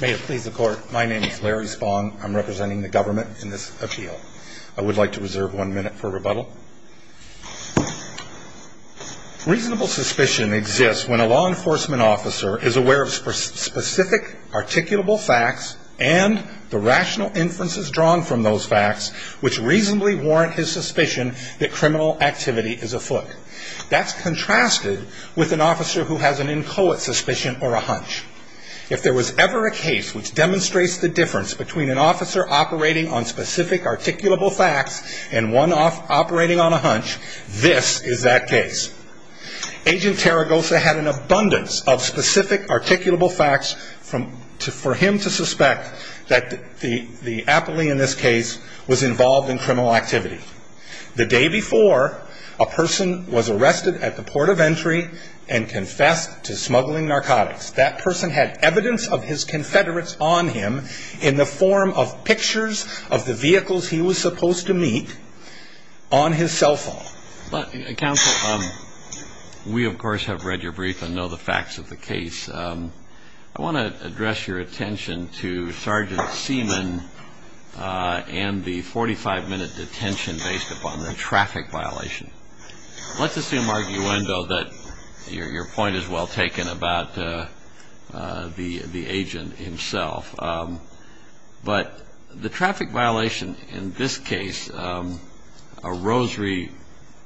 May it please the court, my name is Larry Spong. I'm representing the government in this appeal. I would like to reserve one minute for rebuttal. Reasonable suspicion exists when a law enforcement officer is aware of specific articulable facts and the rational inferences drawn from those facts which reasonably warrant his suspicion that criminal activity is afoot. That's contrasted with an officer who has an inchoate suspicion or a hunch. If there was ever a case which demonstrates the difference between an officer operating on specific articulable facts and one operating on a hunch, this is that case. Agent Terragosa had an abundance of specific articulable facts for him to suspect that the appellee in this case was involved in criminal activity. The day before a person was arrested at the port of entry and confessed to smuggling narcotics, that person had evidence of his confederates on him in the form of pictures of the vehicles he was supposed to meet on his cell phone. Counsel, we of course have read your brief and know the facts of the case. I want to address your attention to Sgt. Seaman and the 45 minute detention based upon the traffic violation. Let's assume, arguendo, that your point is well taken about the agent himself. But the traffic violation in this case, a rosary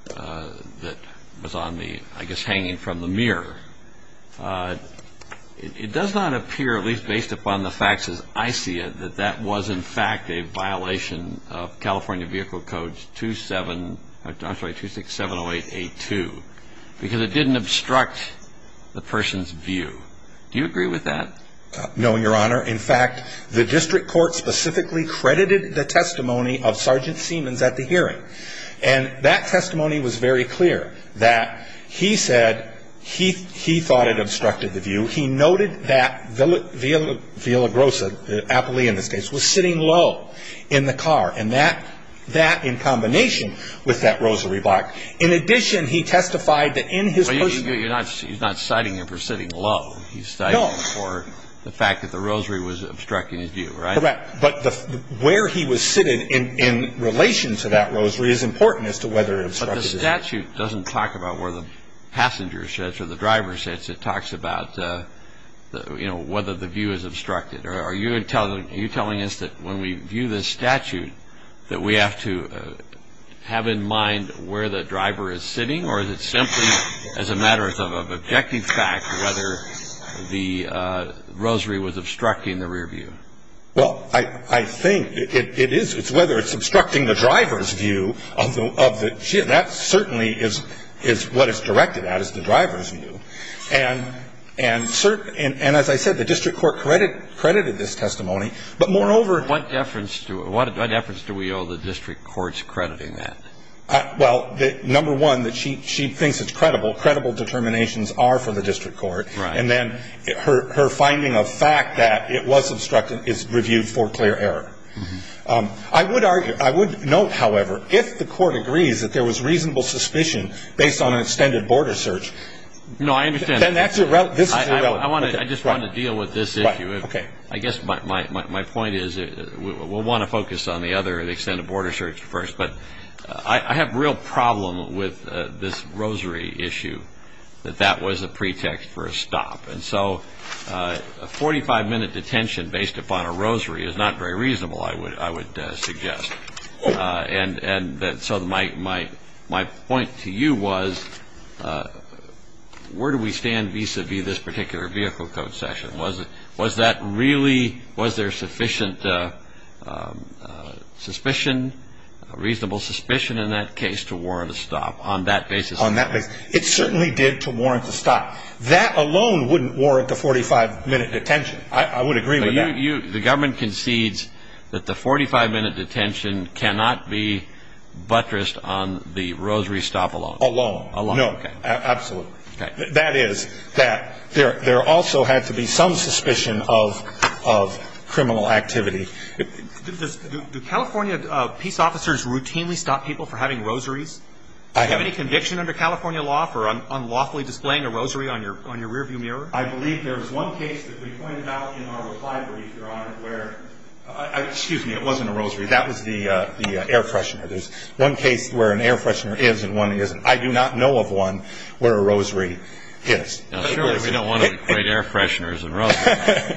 that was on the, I guess, hanging from the mirror, it does not appear, at least based upon the facts as I see it, that that was in fact a violation of California Vehicle Codes 27, I'm sorry, 27. 2670882 because it didn't obstruct the person's view. Do you agree with that? No, Your Honor. In fact, the district court specifically credited the testimony of Sgt. Seaman at the hearing. And that testimony was very clear that he said he thought it obstructed the view. He noted that Villagrosa, the appellee in this case, was sitting low in the car. And that, in combination with that rosary block, in addition, he testified that in his position... But he's not citing him for sitting low. He's citing him for the fact that the rosary was obstructing his view, right? Correct. But where he was sitting in relation to that rosary is important as to whether it obstructed his view. Well, I think it is. It's whether it's obstructing the driver's view of the, that certainly is what it's directed at, is the driver's view. And as I said, the district court credited this testimony. But moreover... What deference do we owe the district court's crediting that? Well, number one, that she thinks it's credible. Credible determinations are for the district court. And then her finding of fact that it was obstructing is reviewed for clear error. I would note, however, if the court agrees that there was reasonable suspicion based on an extended border search... No, I understand. Then this is irrelevant. I just want to deal with this issue. I guess my point is, we'll want to focus on the other extended border search first. But I have real problem with this rosary issue, that that was a pretext for a stop. And so a 45-minute detention based upon a rosary is not very reasonable, I would suggest. And so my point to you was, where do we stand vis-a-vis this particular vehicle code session? Was that really, was there sufficient suspicion, reasonable suspicion in that case to warrant a stop on that basis? It certainly did to warrant a stop. That alone wouldn't warrant a 45-minute detention. I would agree with that. The government concedes that the 45-minute detention cannot be buttressed on the rosary stop alone. Alone. No, absolutely. That is, that there also had to be some suspicion of criminal activity. Do California peace officers routinely stop people for having rosaries? Do you have any conviction under California law for unlawfully displaying a rosary on your rearview mirror? I believe there was one case that we pointed out in our reply brief, Your Honor, where, excuse me, it wasn't a rosary, that was the air freshener. There's one case where an air freshener is and one isn't. I do not know of one where a rosary is. Now, surely we don't want to equate air fresheners and rosaries.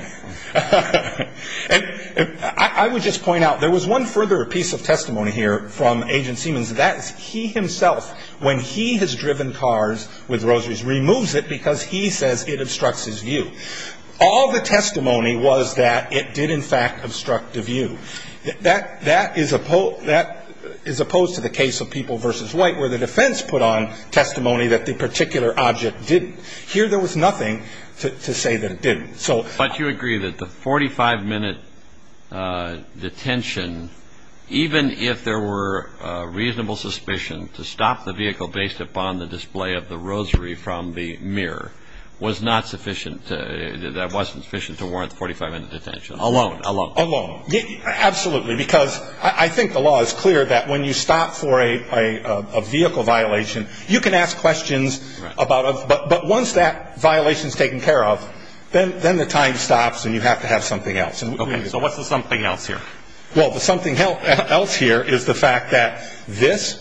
I would just point out, there was one further piece of testimony here from Agent Siemens. That is, he himself, when he has driven cars with rosaries, removes it because he says it obstructs his view. All the testimony was that it did, in fact, obstruct the view. That is opposed to the case of People v. White, where the defense put on testimony that the particular object didn't. Here, there was nothing to say that it didn't. But you agree that the 45-minute detention, even if there were reasonable suspicion to stop the vehicle based upon the display of the rosary from the mirror, was not sufficient to warrant the 45-minute detention? Alone. Alone. Absolutely, because I think the law is clear that when you stop for a vehicle violation, you can ask questions, but once that violation is taken care of, then the time stops and you have to have something else. Okay, so what's the something else here? Well, the something else here is the fact that this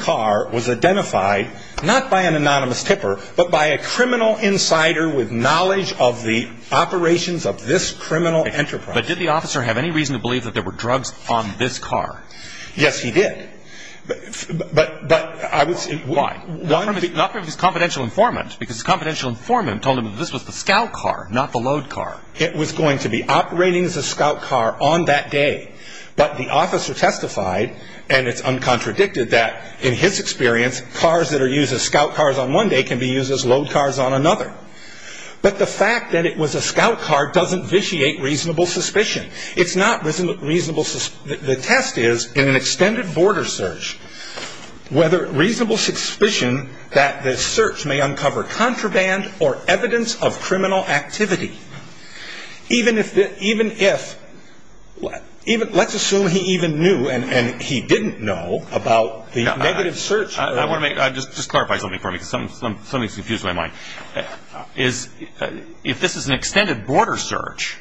car was identified, not by an anonymous tipper, but by a criminal insider with knowledge of the operations of this criminal enterprise. But did the officer have any reason to believe that there were drugs on this car? Yes, he did. Why? Not because he was a confidential informant, because his confidential informant told him that this was the scout car, not the load car. It was going to be operating as a scout car on that day, but the officer testified, and it's uncontradicted, that in his experience, cars that are used as scout cars on one day can be used as load cars on another. But the fact that it was a scout car doesn't vitiate reasonable suspicion. It's not reasonable. The test is, in an extended border search, whether reasonable suspicion that the search may uncover contraband or evidence of criminal activity, even if, let's assume he even knew and he didn't know about the negative search. Just clarify something for me, because something's confused my mind. If this is an extended border search,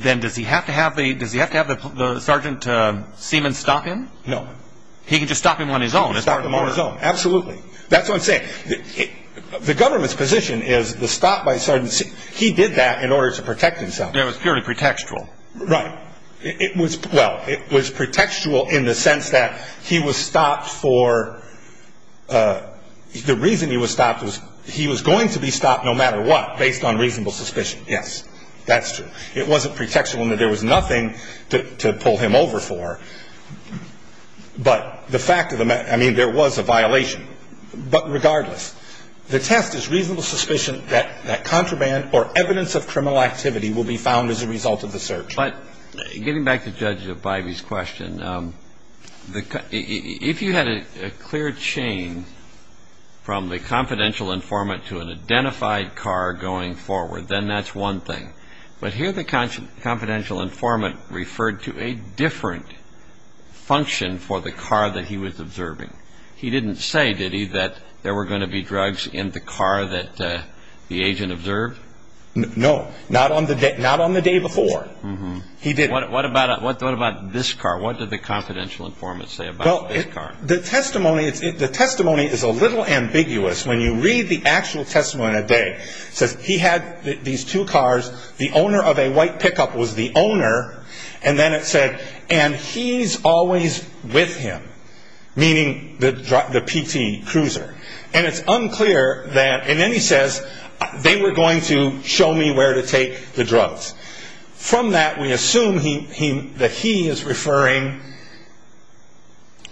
then does he have to have the Sergeant Seaman stop him? No. He can just stop him on his own? Stop him on his own, absolutely. That's what I'm saying. The government's position is the stop by Sergeant Seaman, he did that in order to protect himself. It was purely pretextual. Right. Well, it was pretextual in the sense that he was stopped for, the reason he was stopped was he was going to be stopped no matter what, based on reasonable suspicion. Yes, that's true. It wasn't pretextual in that there was nothing to pull him over for, but the fact of the matter, I mean, there was a violation. But regardless, the test is reasonable suspicion that contraband or evidence of criminal activity will be found as a result of the search. But getting back to Judge Bivey's question, if you had a clear chain from the confidential informant to an identified car going forward, then that's one thing. But here the confidential informant referred to a different function for the car that he was observing. He didn't say, did he, that there were going to be drugs in the car that the agent observed? No, not on the day before. What about this car? What did the confidential informant say about this car? Well, the testimony is a little ambiguous. When you read the actual testimony today, it says he had these two cars. The owner of a white pickup was the owner. And then it said, and he's always with him, meaning the PT cruiser. And it's unclear that, and then he says, they were going to show me where to take the drugs. From that, we assume that he is referring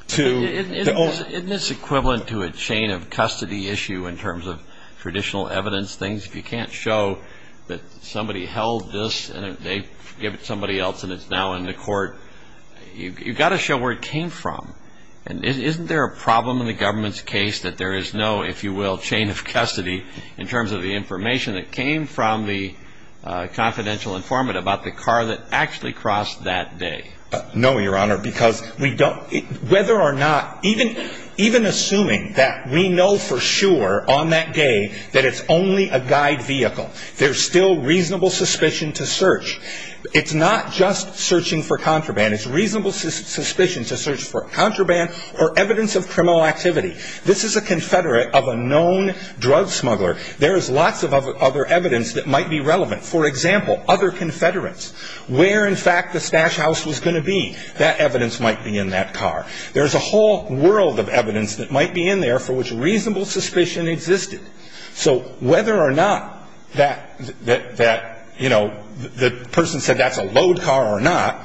to the owner. Isn't this equivalent to a chain of custody issue in terms of traditional evidence things? If you can't show that somebody held this and they give it to somebody else and it's now in the court, you've got to show where it came from. And isn't there a problem in the government's case that there is no, if you will, chain of custody in terms of the information that came from the confidential informant about the car that actually crossed that day? No, Your Honor, because we don't, whether or not, even assuming that we know for sure on that day that it's only a guide vehicle, there's still reasonable suspicion to search. It's not just searching for contraband. It's reasonable suspicion to search for contraband or evidence of criminal activity. This is a confederate of a known drug smuggler. There is lots of other evidence that might be relevant. For example, other confederates. Where, in fact, the stash house was going to be, that evidence might be in that car. There's a whole world of evidence that might be in there for which reasonable suspicion existed. So whether or not that, you know, the person said that's a load car or not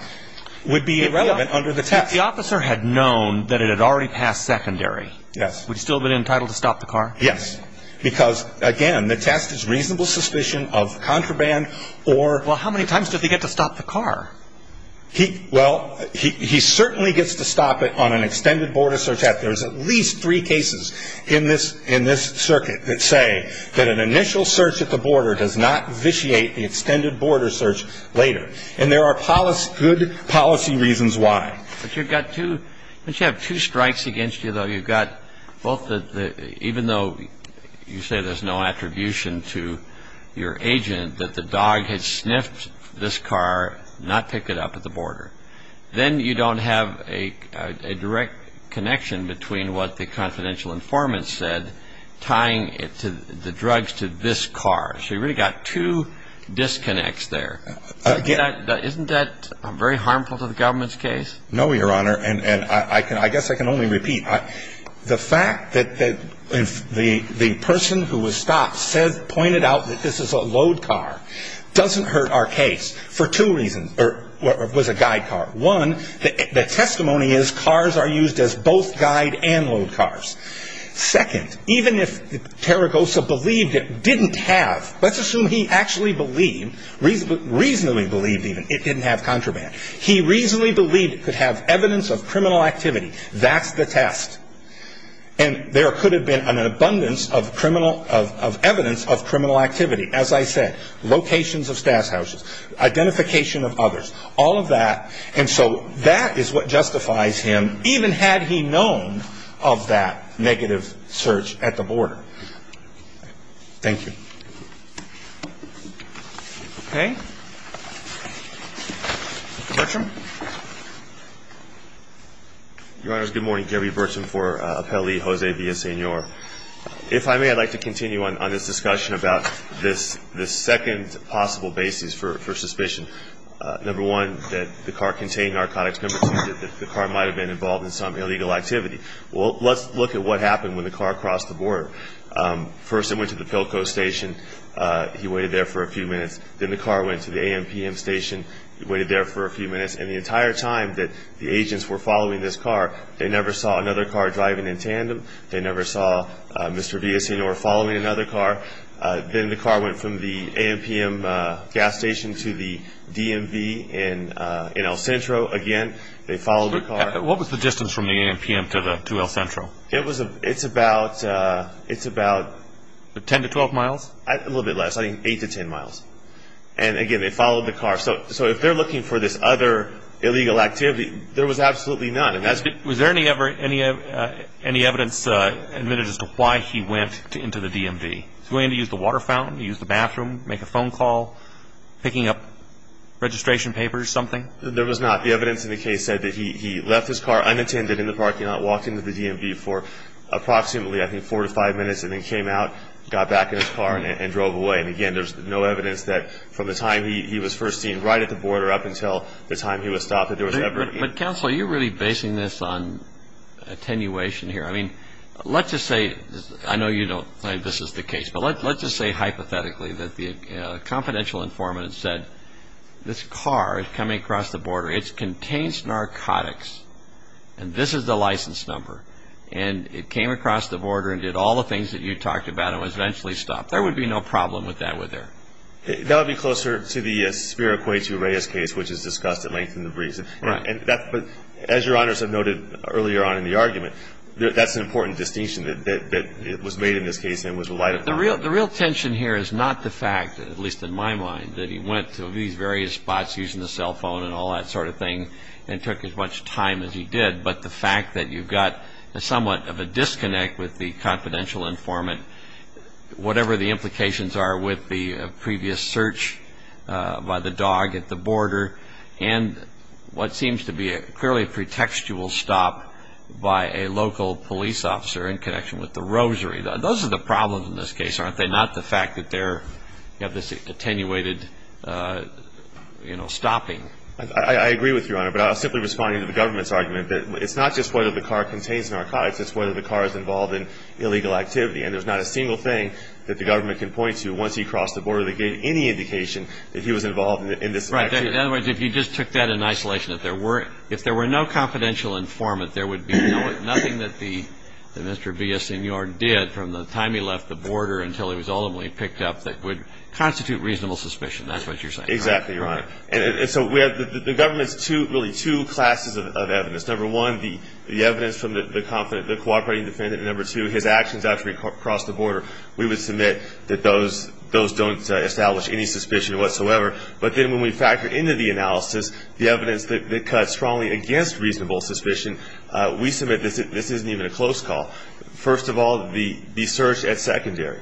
would be irrelevant under the test. If the officer had known that it had already passed secondary, would he still have been entitled to stop the car? Yes, because, again, the test is reasonable suspicion of contraband or Well, how many times did he get to stop the car? Well, he certainly gets to stop it on an extended board of search. There's at least three cases in this in this circuit that say that an initial search at the border does not vitiate the extended border search later. And there are good policy reasons why. But you've got to have two strikes against you, though. You've got both. Even though you say there's no attribution to your agent that the dog had sniffed this car, not pick it up at the border. Then you don't have a direct connection between what the confidential informant said, tying it to the drugs to this car. So you really got two disconnects there. Isn't that very harmful to the government's case? No, Your Honor. And I guess I can only repeat the fact that the person who was stopped pointed out that this is a load car doesn't hurt our case for two reasons. What was a guide car? One, the testimony is cars are used as both guide and load cars. Second, even if Terragosa believed it didn't have, let's assume he actually believed, reasonably believed even, it didn't have contraband. He reasonably believed it could have evidence of criminal activity. That's the test. And there could have been an abundance of evidence of criminal activity. As I said, locations of stash houses, identification of others, all of that. And so that is what justifies him, even had he known of that negative search at the border. Thank you. Okay. Bertram. Your Honors, good morning. Gary Bertram for Appellee Jose Villasenor. If I may, I'd like to continue on this discussion about this second possible basis for suspicion. Number one, that the car contained narcotics. Number two, that the car might have been involved in some illegal activity. Well, let's look at what happened when the car crossed the border. The person went to the Pilco station. He waited there for a few minutes. Then the car went to the AMPM station. He waited there for a few minutes. And the entire time that the agents were following this car, they never saw another car driving in tandem. They never saw Mr. Villasenor following another car. Then the car went from the AMPM gas station to the DMV in El Centro again. They followed the car. What was the distance from the AMPM to El Centro? It's about 10 to 12 miles. A little bit less, I think 8 to 10 miles. And, again, they followed the car. So if they're looking for this other illegal activity, there was absolutely none. Was there any evidence admitted as to why he went into the DMV? Was he going to use the water fountain, use the bathroom, make a phone call, picking up registration papers, something? There was not. The evidence in the case said that he left his car unattended in the parking lot, walked into the DMV for approximately, I think, 4 to 5 minutes, and then came out, got back in his car, and drove away. And, again, there's no evidence that from the time he was first seen right at the border up until the time he was stopped. But, Counselor, you're really basing this on attenuation here. I mean, let's just say, I know you don't think this is the case, but let's just say hypothetically that the confidential informant said, this car is coming across the border, it contains narcotics, and this is the license number, and it came across the border and did all the things that you talked about and was eventually stopped. There would be no problem with that would there? That would be closer to the Spiroquai to Reyes case, which is discussed at length in the briefs. Right. But as Your Honors have noted earlier on in the argument, that's an important distinction that was made in this case and was relied upon. The real tension here is not the fact, at least in my mind, that he went to these various spots using a cell phone and all that sort of thing and took as much time as he did, but the fact that you've got somewhat of a disconnect with the confidential informant, whatever the implications are with the previous search by the dog at the border, and what seems to be clearly a pretextual stop by a local police officer in connection with the rosary. Those are the problems in this case, aren't they? Not the fact that you have this attenuated stopping. I agree with you, Your Honor, but I'll simply respond to the government's argument. It's not just whether the car contains narcotics, it's whether the car is involved in illegal activity. And there's not a single thing that the government can point to once he crossed the border that gave any indication that he was involved in this action. Right. In other words, if you just took that in isolation, if there were no confidential informant, there would be nothing that Mr. Villaseñor did from the time he left the border until he was ultimately picked up that would constitute reasonable suspicion. That's what you're saying, right? Exactly, Your Honor. And so the government's really two classes of evidence. Number one, the evidence from the cooperating defendant. Number two, his actions after he crossed the border. We would submit that those don't establish any suspicion whatsoever. But then when we factor into the analysis the evidence that cuts strongly against reasonable suspicion, we submit this isn't even a close call. First of all, the search at secondary.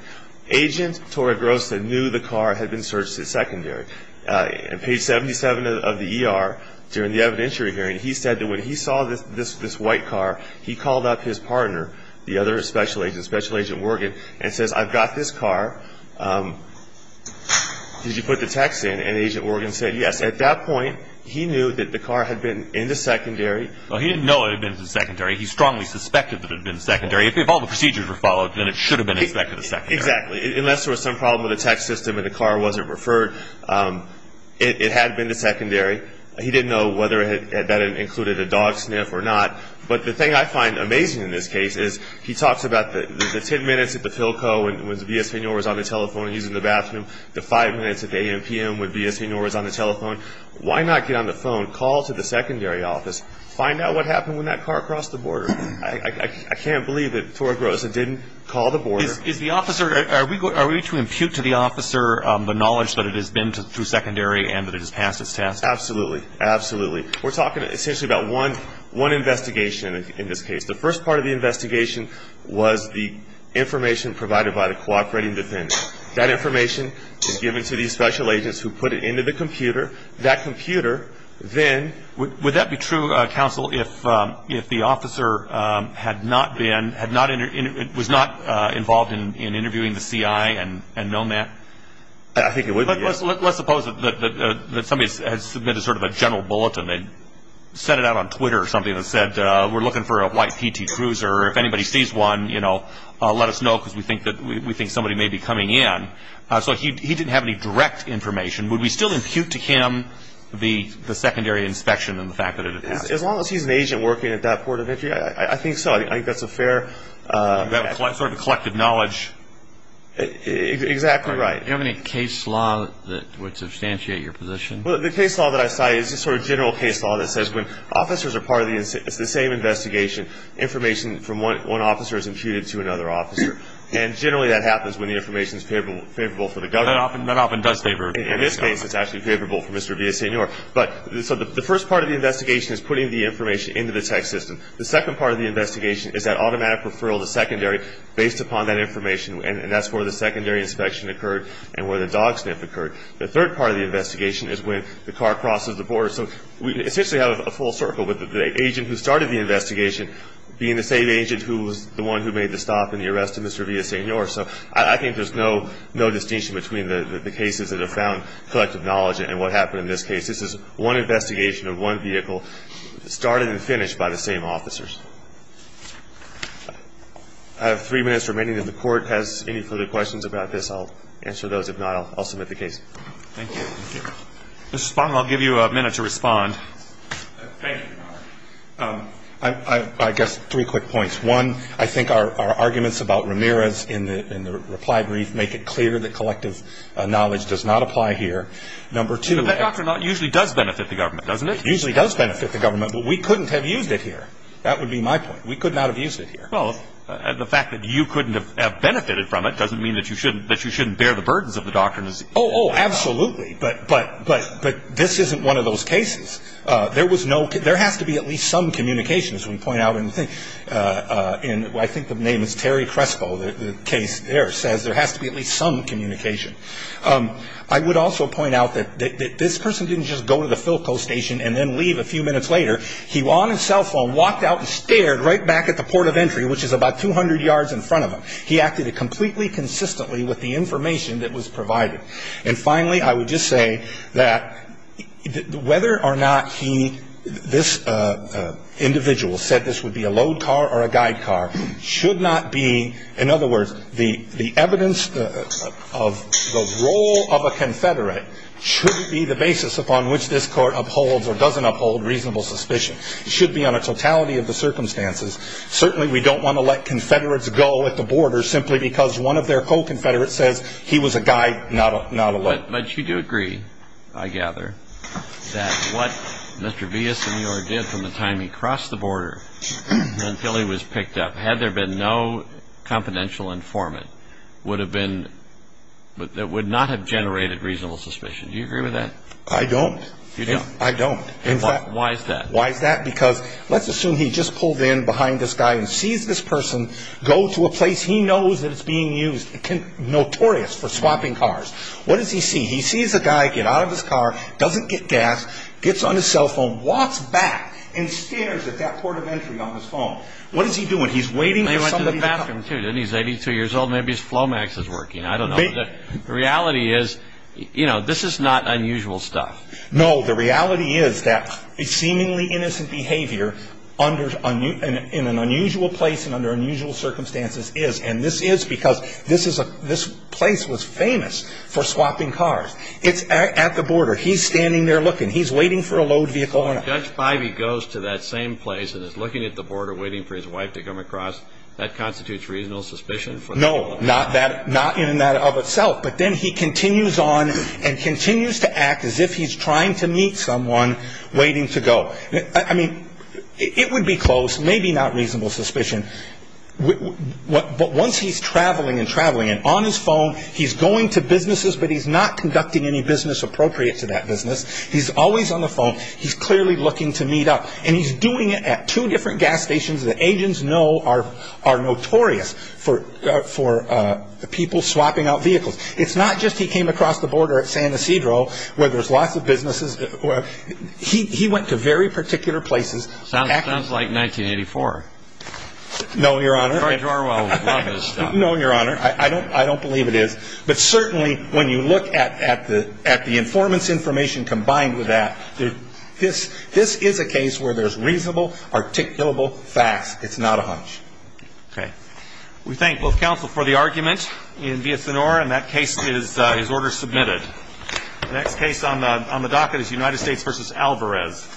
Agent Torregrossa knew the car had been searched at secondary. On page 77 of the ER, during the evidentiary hearing, he said that when he saw this white car, he called up his partner, the other special agent, Special Agent Worgen, and says, I've got this car. Did you put the text in? And Agent Worgen said yes. At that point, he knew that the car had been in the secondary. Well, he didn't know it had been in the secondary. He strongly suspected that it had been in the secondary. If all the procedures were followed, then it should have been inspected at secondary. Exactly. Unless there was some problem with the text system and the car wasn't referred, it had been to secondary. He didn't know whether that included a dog sniff or not. But the thing I find amazing in this case is he talks about the 10 minutes at the Philco when V.S. Pignor was on the telephone and he was in the bathroom, the five minutes at the a.m. p.m. when V.S. Pignor was on the telephone. Why not get on the phone, call to the secondary office, find out what happened when that car crossed the border? I can't believe that Torregrossa didn't call the border. Are we to impute to the officer the knowledge that it has been through secondary and that it has passed its test? Absolutely. Absolutely. We're talking essentially about one investigation in this case. The first part of the investigation was the information provided by the cooperating defendant. That information is given to these special agents who put it into the computer. That computer then – Would that be true, counsel, if the officer had not been – was not involved in interviewing the C.I. and known that? Let's suppose that somebody has submitted sort of a general bulletin and sent it out on Twitter or something that said we're looking for a white PT cruiser. If anybody sees one, let us know because we think somebody may be coming in. So he didn't have any direct information. Would we still impute to him the secondary inspection and the fact that it had passed? As long as he's an agent working at that port of entry, I think so. I think that's a fair – Sort of a collective knowledge – Exactly right. Do you have any case law that would substantiate your position? Well, the case law that I cite is the sort of general case law that says when officers are part of the same investigation, information from one officer is imputed to another officer, and generally that happens when the information is favorable for the government. That often does favor – In this case, it's actually favorable for Mr. Villasenor. But so the first part of the investigation is putting the information into the text system. The second part of the investigation is that automatic referral to secondary based upon that information, and that's where the secondary inspection occurred and where the dog sniff occurred. The third part of the investigation is when the car crosses the border. So we essentially have a full circle with the agent who started the investigation being the same agent who was the one who made the stop in the arrest of Mr. Villasenor. So I think there's no distinction between the cases that have found collective knowledge and what happened in this case. This is one investigation of one vehicle started and finished by the same officers. I have three minutes remaining. If the Court has any further questions about this, I'll answer those. If not, I'll submit the case. Thank you. Thank you. Mr. Spong, I'll give you a minute to respond. Thank you, Your Honor. I guess three quick points. One, I think our arguments about Ramirez in the reply brief make it clear that collective knowledge does not apply here. Number two – But that doctor usually does benefit the government, doesn't it? Usually does benefit the government, but we couldn't have used it here. That would be my point. We could not have used it here. Well, the fact that you couldn't have benefited from it doesn't mean that you shouldn't bear the burdens of the doctrine. Oh, absolutely. But this isn't one of those cases. There has to be at least some communication, as we point out. I think the name is Terry Crespo. The case there says there has to be at least some communication. I would also point out that this person didn't just go to the Philco station and then leave a few minutes later. He, on his cell phone, walked out and stared right back at the port of entry, which is about 200 yards in front of him. He acted completely consistently with the information that was provided. And finally, I would just say that whether or not he – this individual said this would be a load car or a guide car should not be – should be on a totality of the circumstances. Certainly we don't want to let Confederates go at the border simply because one of their co-Confederates says he was a guide, not a load. But you do agree, I gather, that what Mr. Villasenor did from the time he crossed the border until he was picked up, had there been no confidential informant, would have been – would not have generated reasonable suspicion. Do you agree with that? I don't. You don't? I don't. Why is that? Why is that? Because let's assume he just pulled in behind this guy and sees this person go to a place he knows that it's being used, notorious for swapping cars. What does he see? He sees a guy get out of his car, doesn't get gas, gets on his cell phone, walks back and stares at that port of entry on his phone. What is he doing? He's waiting for somebody to – He went to the bathroom, too, didn't he? He's 82 years old. Maybe his Flomax is working. I don't know. The reality is, you know, this is not unusual stuff. No, the reality is that a seemingly innocent behavior under – in an unusual place and under unusual circumstances is, and this is because this is a – this place was famous for swapping cars. It's at the border. He's standing there looking. He's waiting for a load vehicle. When Judge Bivey goes to that same place and is looking at the border, waiting for his wife to come across, that constitutes reasonable suspicion? No, not that – not in and of itself. But then he continues on and continues to act as if he's trying to meet someone waiting to go. I mean, it would be close, maybe not reasonable suspicion. But once he's traveling and traveling and on his phone, he's going to businesses, but he's not conducting any business appropriate to that business. He's always on the phone. He's clearly looking to meet up. And he's doing it at two different gas stations that agents know are notorious for people swapping out vehicles. It's not just he came across the border at San Ysidro where there's lots of businesses. He went to very particular places. Sounds like 1984. No, Your Honor. George Orwell would love this stuff. No, Your Honor. I don't believe it is. But certainly when you look at the informant's information combined with that, this is a case where there's reasonable, articulable facts. It's not a hunch. Okay. We thank both counsel for the argument in Villasenor, and that case is order submitted. The next case on the docket is United States v. Alvarez.